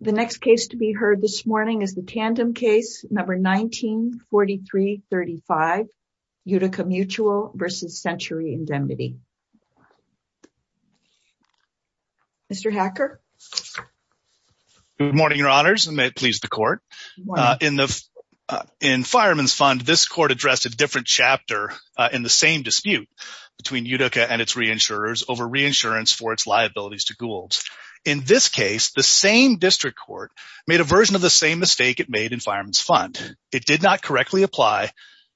The next case to be heard this morning is the Tandem case No. 194335, Utica Mutual v. Century Indemnity. Mr. Hacker? Good morning, Your Honors, and may it please the Court. In Fireman's Fund, this Court addressed a different chapter in the same dispute between Utica and its reinsurers over reinsurance for its liabilities In this case, the same district court made a version of the same mistake it made in Fireman's Fund. It did not correctly apply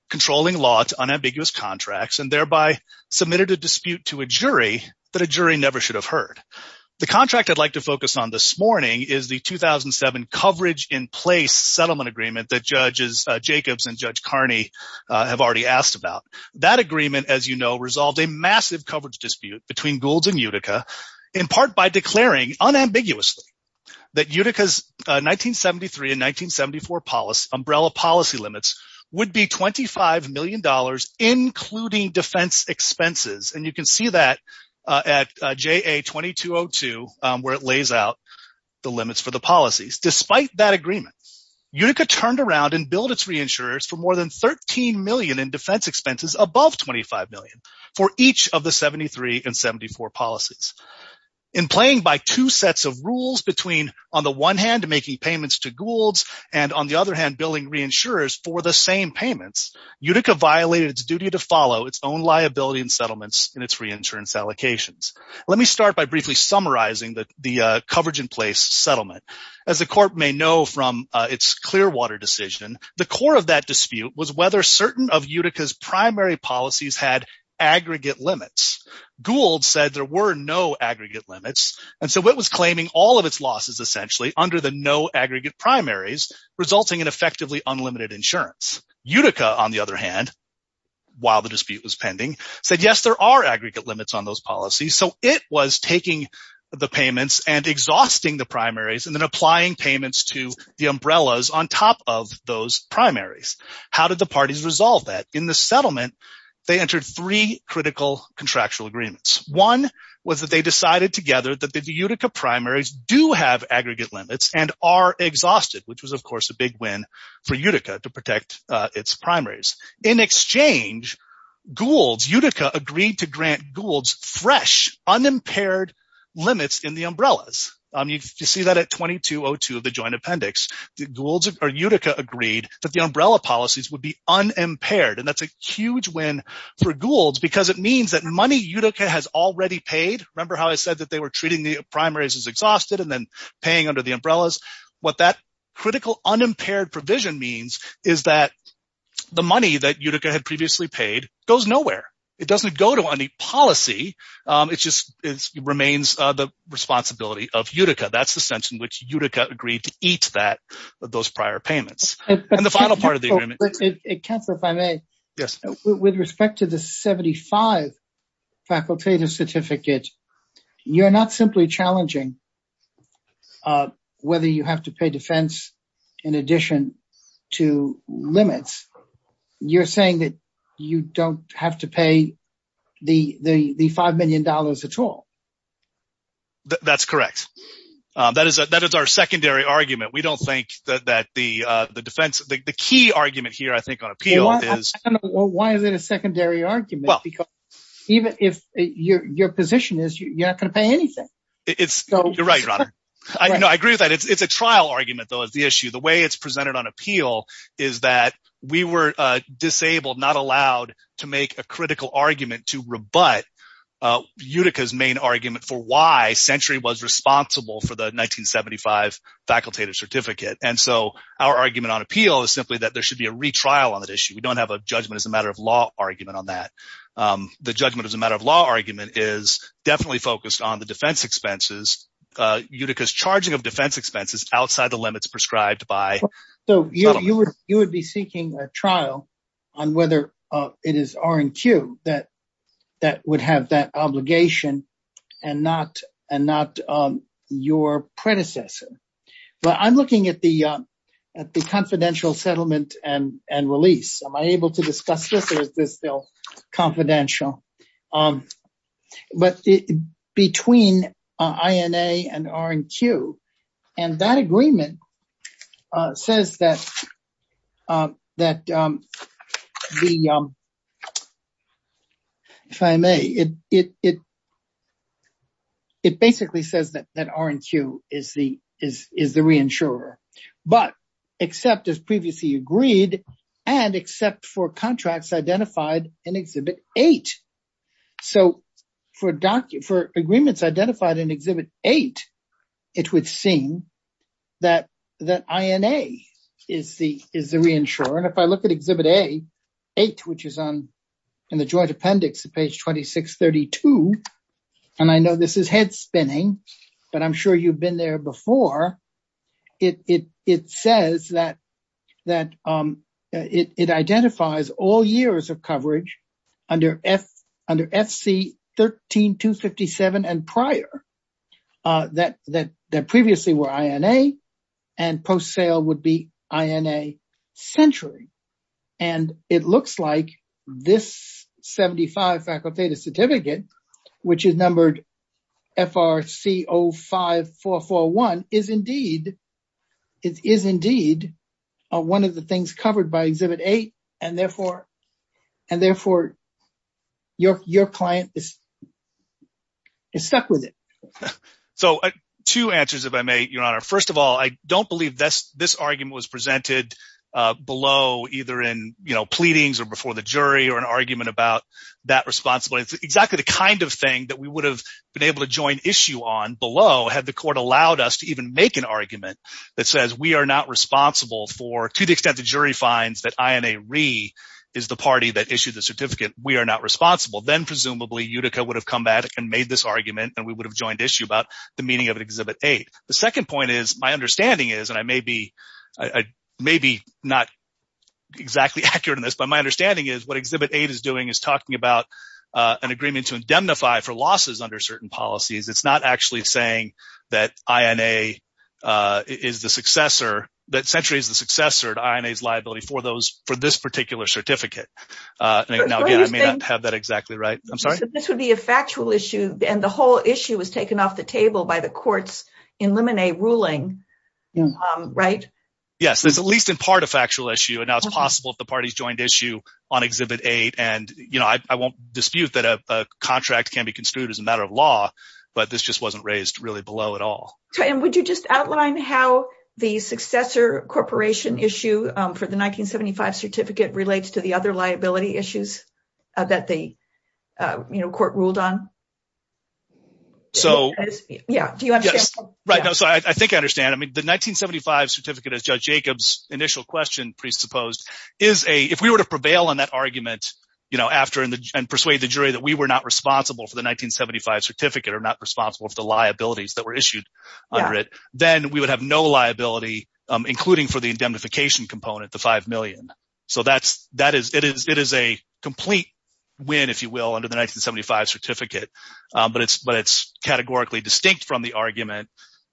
controlling law to unambiguous contracts, and thereby submitted a dispute to a jury that a jury never should have heard. The contract I'd like to focus on this morning is the 2007 Coverage-in-Place settlement agreement that Judges Jacobs and Judge Carney have already asked about. That agreement, as you know, resolved a massive coverage dispute between Goulds and Utica in part by declaring unambiguously that Utica's 1973 and 1974 umbrella policy limits would be $25 million including defense expenses. And you can see that at JA-2202, where it lays out the limits for the policies. Despite that agreement, Utica turned around and billed its reinsurers for more than $13 million in defense expenses above $25 million for each of the 1973 and 1974 policies. In playing by two sets of rules between on the one hand making payments to Goulds and on the other hand billing reinsurers for the same payments, Utica violated its duty to follow its own liability and settlements in its reinsurance allocations. Let me start by briefly summarizing the Coverage-in-Place settlement. As the court may know from its Clearwater decision, the core of that dispute was whether certain of Utica's primary policies had aggregate limits. Goulds said there were no aggregate limits and so it was claiming all of its losses essentially under the no aggregate primaries, resulting in effectively unlimited insurance. Utica on the other hand, while the dispute was pending, said yes there are aggregate limits on those policies so it was taking the payments and exhausting the primaries and then applying payments to the umbrellas on top of those primaries. How did the parties resolve that? In the settlement, they entered three critical contractual agreements. One was that they decided together that the Utica primaries do have aggregate limits and are exhausted, which was of course a big win for Utica to protect its primaries. In exchange, Goulds, Utica agreed to grant Goulds fresh unimpaired limits in the umbrellas. You see that at 2202 of the joint appendix. Goulds or Utica agreed that the umbrella policies would be unimpaired and that's a huge win for Goulds because it means that money Utica has already paid. Remember how I said that they were treating the primaries as exhausted and then paying under the umbrellas? What that critical unimpaired provision means is that the money that Utica had previously paid goes nowhere. It doesn't go to any policy, it just remains the responsibility of Utica. That's the sense in which Utica agreed to those prior payments. With respect to the 75 facultative certificate, you're not simply challenging whether you have to pay defense in addition to limits. You're saying that you don't have to pay the five million dollars at all. That's correct. That is our secondary argument. We don't think that the defense, the key argument here I think on appeal is... Why is it a secondary argument? Because even if your position is you're not going to pay anything. You're right. I agree with that. It's a trial argument though is the issue. The way it's presented on appeal is that we were disabled, not allowed to make a critical argument to rebut Utica's main argument for why Century was responsible for the 1975 facultative certificate. And so our argument on appeal is simply that there should be a retrial on that issue. We don't have a judgment as a matter of law argument on that. The judgment as a matter of law argument is definitely focused on the defense expenses. Utica's charging of defense expenses outside the limits prescribed by... You would be seeking a trial on whether it is R&Q that would have that obligation and not your predecessor. But I'm looking at the confidential settlement and release. Am I able to discuss this or is this still confidential? But between INA and R&Q, and that agreement says that R&Q is the reinsurer, but except as previously agreed and except for contracts identified in Exhibit 8. So for agreements identified in Exhibit 8, it would seem that INA is the reinsurer. And if I look at Exhibit 8, which is in the joint appendix at page 2632, and I know this is head spinning, but I'm sure you've been there before, it says that it identifies all years of coverage under FC 13257 and prior that previously were INA and post-sale would be INA century. And it looks like this 75 certificate, which is numbered FRC 05441 is indeed one of the things covered by Exhibit 8. And therefore, your client is stuck with it. So two answers, if I may, Your Honor. First of all, I don't believe this argument was presented below either in pleadings or before the jury or an argument about that responsibility. It's exactly the kind of thing that we would have been able to join issue on below had the court allowed us to even make an argument that says we are not responsible for to the extent the jury finds that INA re is the party that issued the certificate, we are not responsible. Then presumably, Utica would have come back and made this argument and we would have joined issue about the meaning of Exhibit 8. The second point my understanding is, and I may be not exactly accurate in this, but my understanding is what Exhibit 8 is doing is talking about an agreement to indemnify for losses under certain policies. It's not actually saying that century is the successor to INA's liability for this particular certificate. I may not have that exactly right. I'm sorry. This would be a factual issue. And whole issue was taken off the table by the courts in limine ruling, right? Yes, it's at least in part a factual issue. And now it's possible if the parties joined issue on Exhibit 8. And I won't dispute that a contract can be construed as a matter of law, but this just wasn't raised really below at all. And would you just outline how the successor corporation issue for the 1975 certificate relates to the other liability issues that the court ruled on? So, yeah, do you understand? Right now, so I think I understand. I mean, the 1975 certificate as Judge Jacobs initial question presupposed is a, if we were to prevail on that argument, you know, after and persuade the jury that we were not responsible for the 1975 certificate or not responsible for the liabilities that were issued under it, then we would have no liability, including for the indemnification component, the 5 million. So that's, that is, it is, it is a complete win, if you will, under the 1975 certificate. But it's, but it's categorically distinct from the argument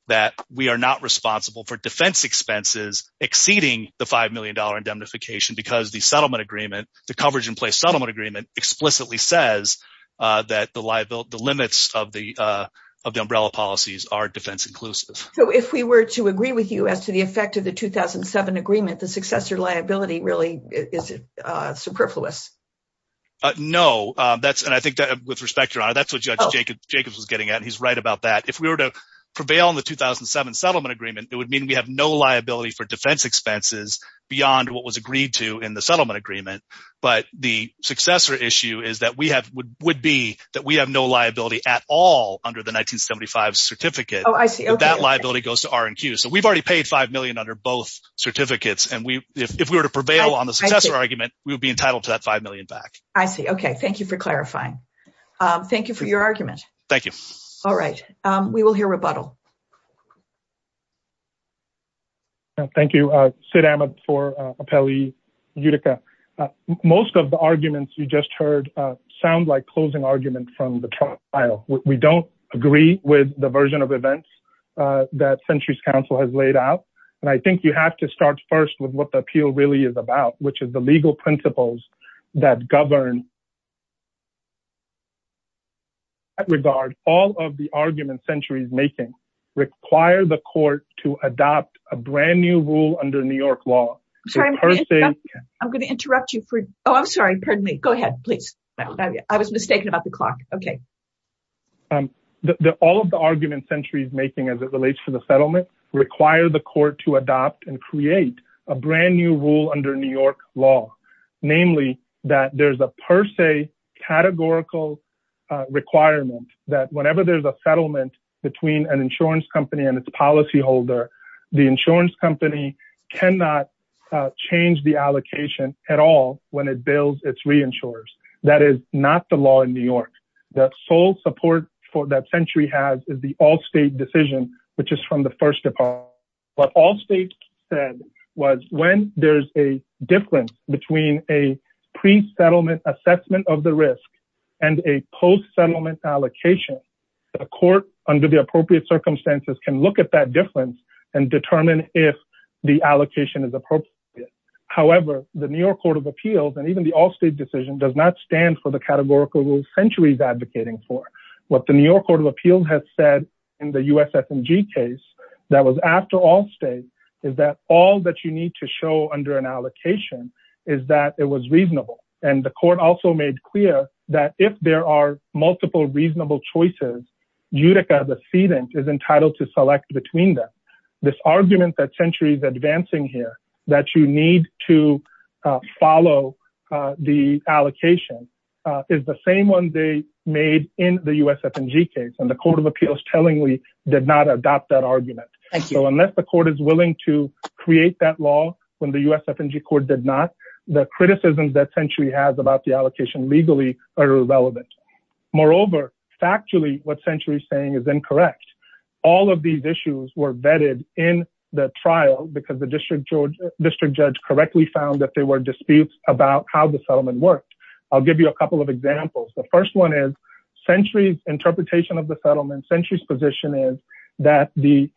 that we are not responsible for defense expenses exceeding the 5 million dollar indemnification because the settlement agreement, the coverage in place settlement agreement explicitly says that the liability, the limits of the, of the umbrella policies are defense inclusive. So if we were to agree with you as the effect of the 2007 agreement, the successor liability really is superfluous. No, that's, and I think that with respect, Your Honor, that's what Judge Jacobs was getting at. He's right about that. If we were to prevail on the 2007 settlement agreement, it would mean we have no liability for defense expenses beyond what was agreed to in the settlement agreement. But the successor issue is that we have would be that we have no liability at all under the 1975 certificate. Oh, I see. That liability goes to R&Q. So we've already paid 5 million under both certificates. And we, if we were to prevail on the successor argument, we would be entitled to that 5 million back. I see. Okay. Thank you for clarifying. Thank you for your argument. Thank you. All right. We will hear rebuttal. Thank you, Sid Ahmed for Appellee Utica. Most of the arguments you just heard sound like closing arguments from the trial. We don't agree with the version of events that Centuries Council has laid out. And I think you have to start first with what the appeal really is about, which is the legal principles that govern. At regard, all of the arguments Centuries making require the court to adopt a brand new rule under New York law. I'm sorry, I'm going to interrupt you. Oh, I'm mistaken about the clock. Okay. All of the arguments Centuries making as it relates to the settlement require the court to adopt and create a brand new rule under New York law. Namely, that there's a per se categorical requirement that whenever there's a settlement between an insurance company and its policyholder, the insurance company cannot change the allocation at all when it bills its reinsurers. That is not the law in New York. The sole support that Century has is the all state decision, which is from the first department. What all states said was when there's a difference between a pre-settlement assessment of the risk and a post-settlement allocation, the court under the appropriate circumstances can look at that and determine if the allocation is appropriate. However, the New York Court of Appeals and even the all state decision does not stand for the categorical rule Century is advocating for. What the New York Court of Appeals has said in the USFMG case that was after all states is that all that you need to show under an allocation is that it was reasonable. And the court also made clear that if there are multiple reasonable choices, Utica, the cedent is entitled to select between them. This argument that Century is advancing here that you need to follow the allocation is the same one they made in the USFMG case. And the Court of Appeals tellingly did not adopt that argument. So unless the court is willing to create that law when the USFMG court did not, the criticisms that Century has about the allocation legally are irrelevant. Moreover, factually what Century is saying is incorrect. All of these issues were vetted in the trial because the district judge correctly found that there were disputes about how the settlement worked. I'll give you a couple of examples. The first one is Century's interpretation of the settlement. Century's position is that the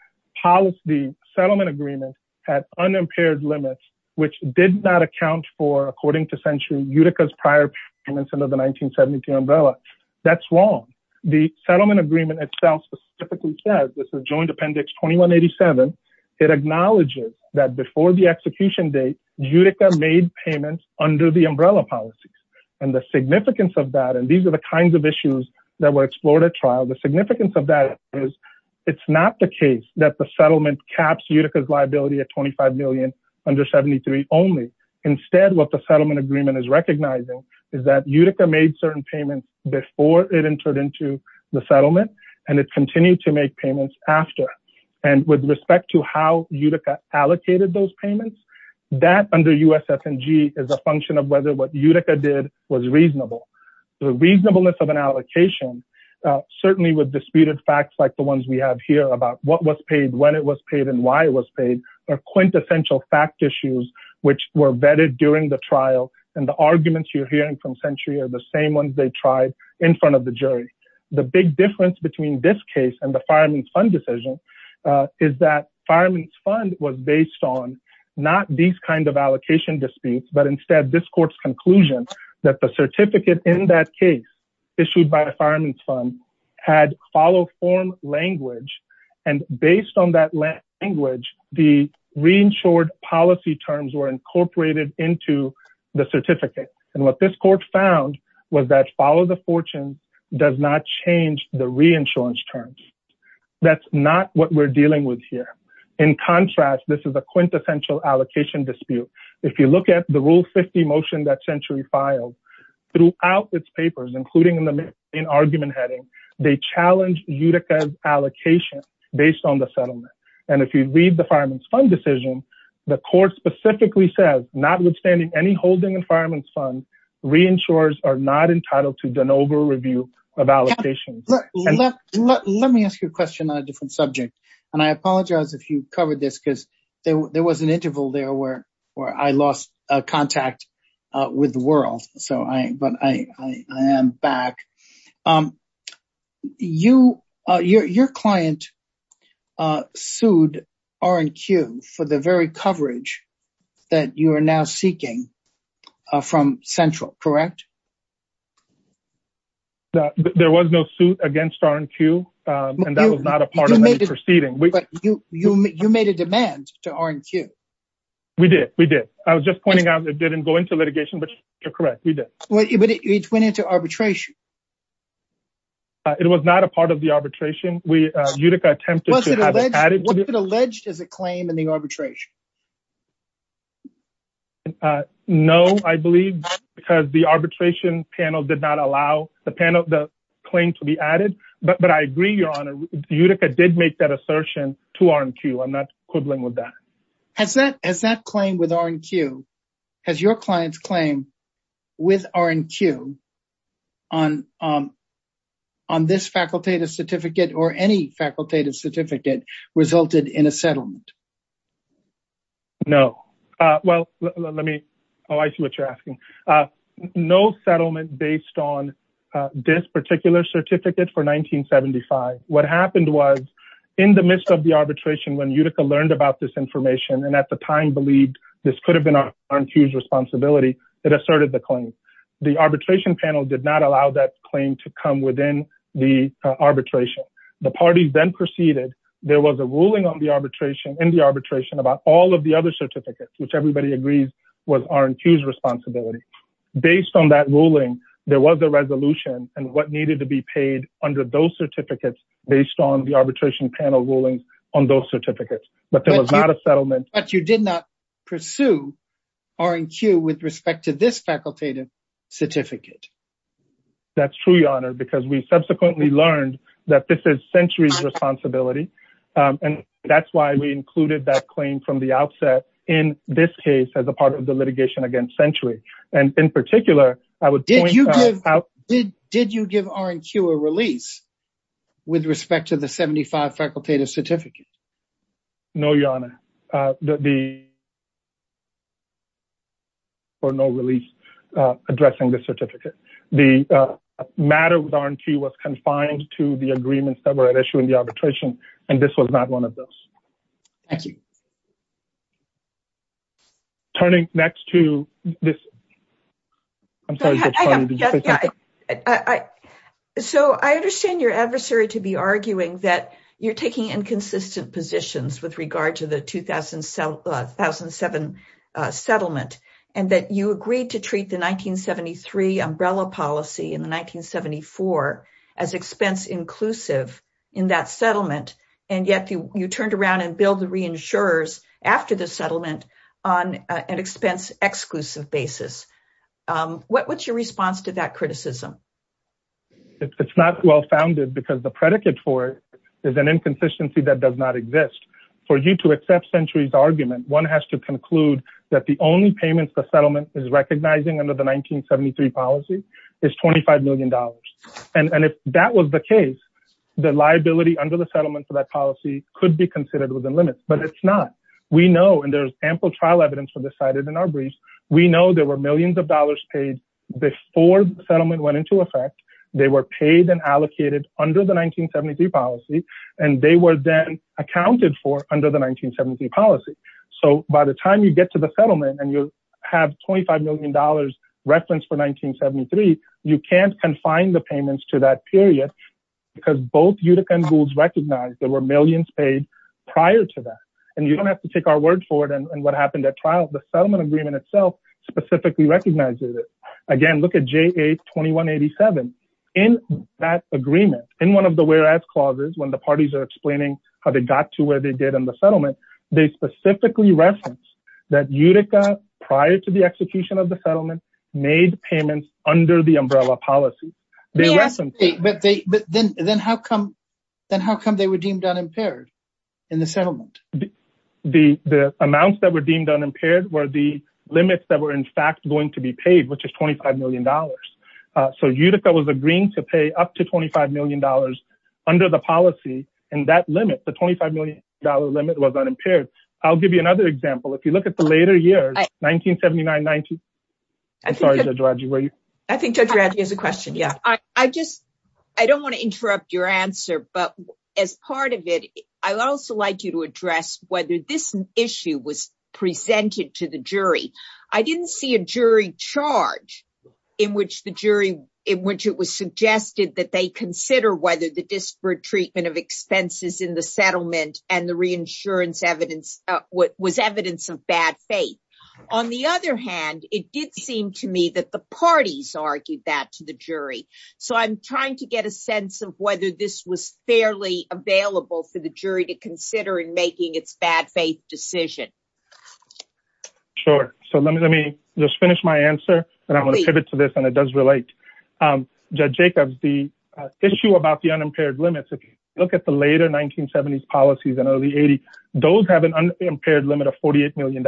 settlement agreement had unimpaired limits, which did not account for, according to Century, Utica's prior payments under the 1970 umbrella. That's wrong. The settlement agreement itself specifically says, this is joint appendix 2187, it acknowledges that before the execution date, Utica made payments under the umbrella policies. And the significance of that, and these are the kinds of issues that were explored at trial, the significance of that is it's not the case that the settlement caps Utica's liability at $25 million under 73 only. Instead, what the settlement agreement is recognizing is that Utica made certain payments before it entered into the settlement, and it continued to make payments after. And with respect to how Utica allocated those payments, that under USF&G is a function of whether what Utica did was reasonable. The reasonableness of an allocation, certainly with disputed facts like the ones we have here about what was paid, when it was paid, and why it was paid are quintessential fact issues, which were vetted during the trial. And the arguments you're hearing from Century are the same ones they tried in front of the jury. The big difference between this case and the Fireman's Fund decision is that Fireman's Fund was based on not these kind of allocation disputes, but instead this court's conclusion that the certificate in that case issued by the Fireman's Fund had follow form language. And based on that language, the reinsured policy terms were incorporated into the certificate. And what this court found was that follow the fortune does not change the reinsurance terms. That's not what we're dealing with here. In contrast, this is a quintessential allocation dispute. If you look at the Rule 50 motion that Century filed, throughout its papers, including in the argument heading, they challenged Utica's based on the settlement. And if you read the Fireman's Fund decision, the court specifically says, notwithstanding any holding in Fireman's Fund, reinsurers are not entitled to de novo review of allocations. Let me ask you a question on a different subject. And I apologize if you covered this because there was an interval there where I lost contact with the world. I am back. Your client sued R&Q for the very coverage that you are now seeking from Central, correct? There was no suit against R&Q, and that was not a part of any proceeding. But you made a demand to R&Q. We did. We did. I was just pointing out didn't go into litigation, but you're correct. We did. But it went into arbitration. It was not a part of the arbitration. Utica attempted to have it added. Was it alleged as a claim in the arbitration? No, I believe, because the arbitration panel did not allow the claim to be added. But I agree, Your Honor, Utica did make that assertion to R&Q. I'm not quibbling with that. Has that claim with R&Q, has your client's claim with R&Q on this facultative certificate or any facultative certificate resulted in a settlement? No. Well, let me, oh, I see what you're asking. No settlement based on this particular certificate for 1975. What happened was in the midst of the arbitration, when Utica learned about this information and at the time believed this could have been R&Q's responsibility, it asserted the claim. The arbitration panel did not allow that claim to come within the arbitration. The parties then proceeded. There was a ruling on the arbitration, in the arbitration, about all of the other certificates, which everybody agrees was R&Q's responsibility. Based on that ruling, there was a resolution and what needed to be paid under those certificates based on the arbitration panel rulings on those certificates. But there was not a settlement. But you did not pursue R&Q with respect to this facultative certificate. That's true, Your Honor, because we subsequently learned that this is Century's responsibility. And that's why we included that claim from the outset in this case as a part of the litigation against Century. Did you give R&Q a release with respect to the 1975 facultative certificate? No, Your Honor. There was no release addressing this certificate. The matter with R&Q was confined to the agreements that were at issue in the arbitration, and this was not one of those. Thank you. Turning next to this. I'm sorry. So, I understand your adversary to be arguing that you're taking inconsistent positions with regard to the 2007 settlement, and that you agreed to treat the 1973 umbrella policy in the 1974 as expense-inclusive in that settlement. And yet, you turned around and billed the reinsurers after the settlement on an expense-exclusive basis. What's your response to that criticism? It's not well-founded, because the predicate for it is an inconsistency that does not exist. For you to accept Century's argument, one has to conclude that the only and if that was the case, the liability under the settlement for that policy could be considered within limits, but it's not. We know, and there's ample trial evidence for this cited in our brief, we know there were millions of dollars paid before the settlement went into effect. They were paid and allocated under the 1973 policy, and they were then accounted for under the 1973 policy. So, by the time you get to the settlement and you have $25 million referenced for 1973, you can't confine the payments to that period, because both Utica and Goulds recognized there were millions paid prior to that. And you don't have to take our word for it and what happened at trial, the settlement agreement itself specifically recognizes it. Again, look at JA-2187. In that agreement, in one of the whereas clauses, when the parties are explaining how they got to where they did in the settlement, they specifically referenced that Utica, prior to execution of the settlement, made payments under the umbrella policy. But then how come they were deemed unimpaired in the settlement? The amounts that were deemed unimpaired were the limits that were in fact going to be paid, which is $25 million. So, Utica was agreeing to pay up to $25 million under the policy, and that limit, the $25 million limit was unimpaired. I'll give you another example. If you look at the later years, 1979-19... I'm sorry, Judge Radji, where are you? I think Judge Radji has a question. Yeah. I don't want to interrupt your answer, but as part of it, I'd also like you to address whether this issue was presented to the jury. I didn't see a jury charge in which the jury, in which it was suggested that they consider whether the disparate treatment of expenses in the settlement and the reinsurance evidence was evidence of bad faith. On the other hand, it did seem to me that the parties argued that to the jury. So, I'm trying to get a sense of whether this was fairly available for the jury to consider in making its bad faith decision. Sure. So, let me just finish my answer, and I'm going to pivot to this, and it does relate. Judge Jacobs, the issue about the unimpaired limits, if you look at the later 1970s policies and early 80s, those have an unimpaired limit of $48 million.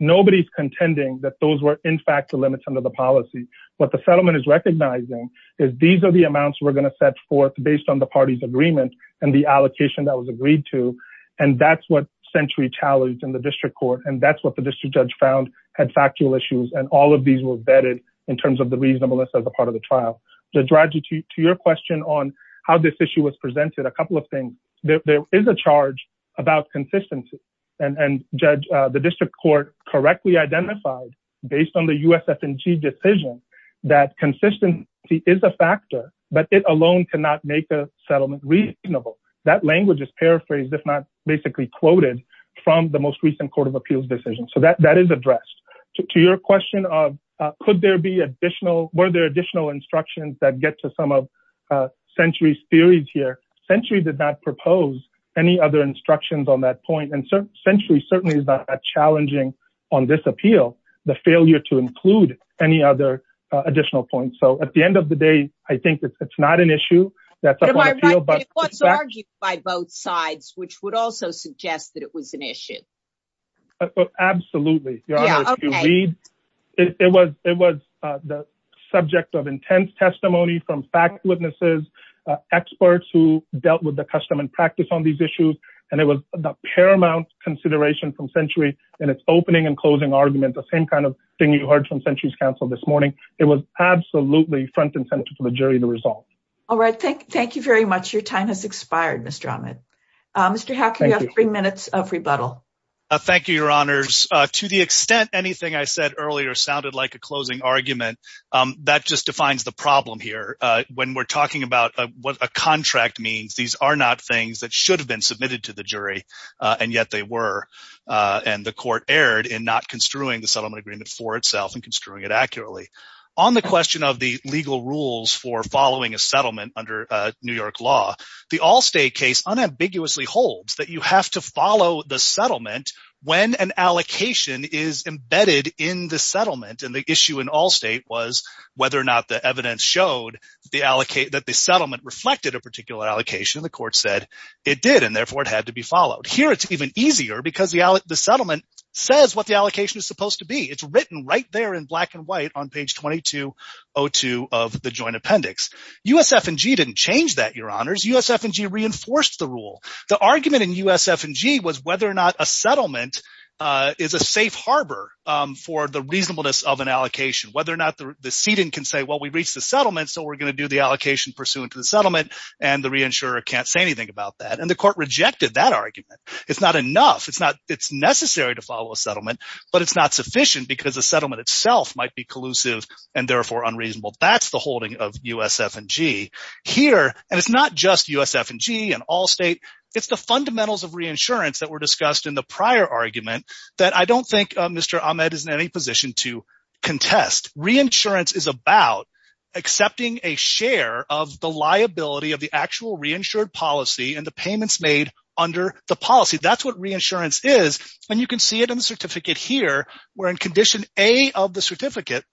Nobody's contending that those were in fact the limits under the policy. What the settlement is recognizing is these are the amounts we're going to set forth based on the party's agreement and the allocation that was agreed to, and that's what sentry challenged in the district court, and that's what the district judge found had factual issues, and all of these were vetted in terms of the reasonableness of the trial. To your question on how this issue was presented, a couple of things. There is a charge about consistency, and the district court correctly identified, based on the USF&G decision, that consistency is a factor, but it alone cannot make a settlement reasonable. That language is paraphrased, if not basically quoted, from the most recent Court of Appeals decision. So, that is addressed. To your question of could there be additional, were there additional instructions that get to some of Sentry's theories here, Sentry did not propose any other instructions on that point, and Sentry certainly is not that challenging on this appeal, the failure to include any other additional points. So, at the end of the day, I think it's not an issue. Am I right that it was argued by both sides, which would also suggest that it was an issue? Absolutely. It was the subject of intense testimony from fact witnesses, experts who dealt with the custom and practice on these issues, and it was a paramount consideration from Sentry in its opening and closing argument, the same kind of thing you heard from Sentry's counsel this morning. It was absolutely front and center for the jury to resolve. All right. Thank you very much. Your time has expired, Mr. Ahmed. Mr. Haq, you have three minutes of rebuttal. Thank you, Your Honors. To the extent anything I said earlier sounded like a closing argument, that just defines the problem here. When we're talking about what a contract means, these are not things that should have been submitted to the jury, and yet they were, and the Court erred in not construing the settlement agreement for itself and construing it accurately. On the question of the legal rules for following a settlement under New York law, the Allstate case unambiguously holds that you have to follow the settlement when an allocation is embedded in the settlement, and the issue in Allstate was whether or not the evidence showed that the settlement reflected a particular allocation. The Court said it did, and therefore it had to be followed. Here, it's even easier because the settlement says what the allocation is supposed to be. It's written right there in black and white on page 2202 of the joint appendix. USF&G didn't change that, Your Honors. USF&G reinforced the rule. The argument in USF&G was whether or not a settlement is a safe harbor for the reasonableness of an allocation, whether or not the seating can say, well, we reached the settlement, so we're going to do the allocation pursuant to the settlement, and the reinsurer can't say anything about that, and the Court rejected that argument. It's not enough. It's necessary to follow a settlement, but it's not sufficient because the settlement itself might be collusive and therefore unreasonable. That's the holding of USF&G. Here, and it's not just USF&G and Allstate, it's the fundamentals of reinsurance that were discussed in the prior argument that I don't think Mr. Ahmed is in any position to contest. Reinsurance is about accepting a share of the liability of the actual reinsured policy and the payments made under the policy. That's what reinsurance is, and you can see it in the certificate here, where in condition A of the certificate,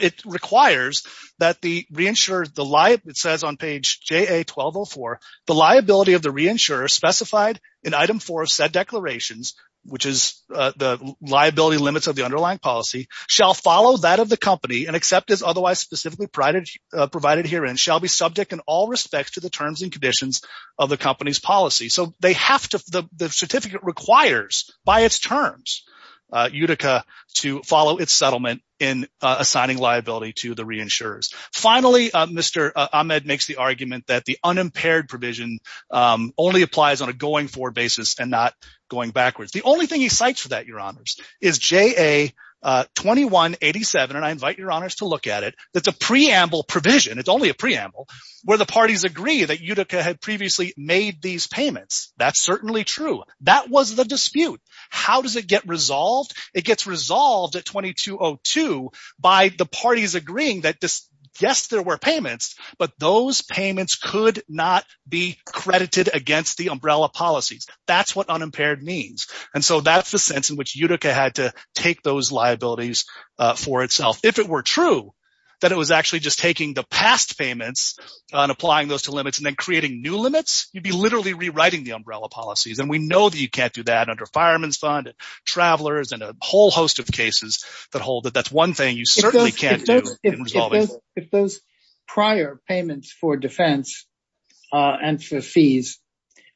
it requires that the reinsurer, it says on page JA-1204, the liability of the reinsurer specified in item four of said declarations, which is the liability limits of the underlying policy, shall follow that of the company and accept as otherwise specifically provided herein, shall be subject in all respects to the terms and conditions of the company's policy. So, the certificate requires, by its terms, Utica to follow its settlement in assigning liability to the reinsurers. Finally, Mr. Ahmed makes the argument that the unimpaired provision only applies on a going-forward basis and not going backwards. The only thing he cites for that, Your Honors, is JA-2187, and I invite Your Honors to look at it. It's a preamble provision, it's only a preamble, where the parties agree that Utica had previously made these payments. That's certainly true. That was the dispute. How does it get resolved? It gets resolved at 2202 by the parties agreeing that, yes, there were payments, but those payments could not be credited against the umbrella policies. That's what unimpaired means, and so that's the sense in which Utica had to take those liabilities for If it were true that it was actually just taking the past payments and applying those to limits and then creating new limits, you'd be literally rewriting the umbrella policies, and we know that you can't do that under Fireman's Fund, Travelers, and a whole host of cases that hold that. That's one thing you certainly can't do. If those prior payments for defense and for fees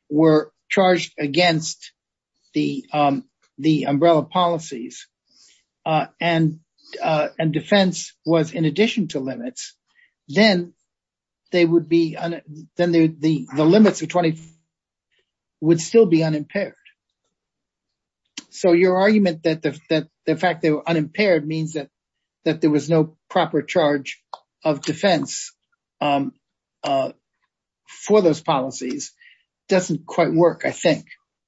were charged against the umbrella policies and defense was in addition to limits, then the limits would still be unimpaired. So your argument that the fact they were unimpaired means that there was no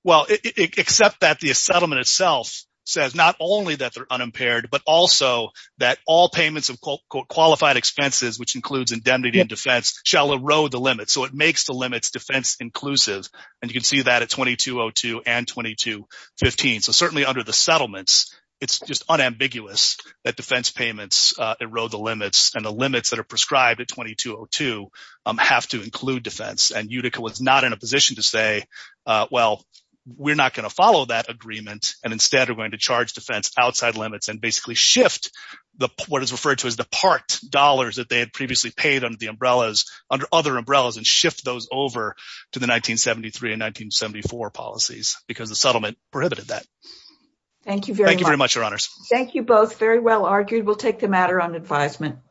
Well, except that the settlement itself says not only that they're unimpaired, but also that all payments of qualified expenses, which includes indemnity and defense, shall erode the limits. So it makes the limits defense-inclusive, and you can see that at 2202 and 2215. So certainly under the settlements, it's just unambiguous that defense payments erode the limits, and the limits that are we're not going to follow that agreement and instead are going to charge defense outside limits and basically shift the what is referred to as the part dollars that they had previously paid under the umbrellas under other umbrellas and shift those over to the 1973 and 1974 policies because the settlement prohibited that. Thank you very much. Thank you very much, advisement.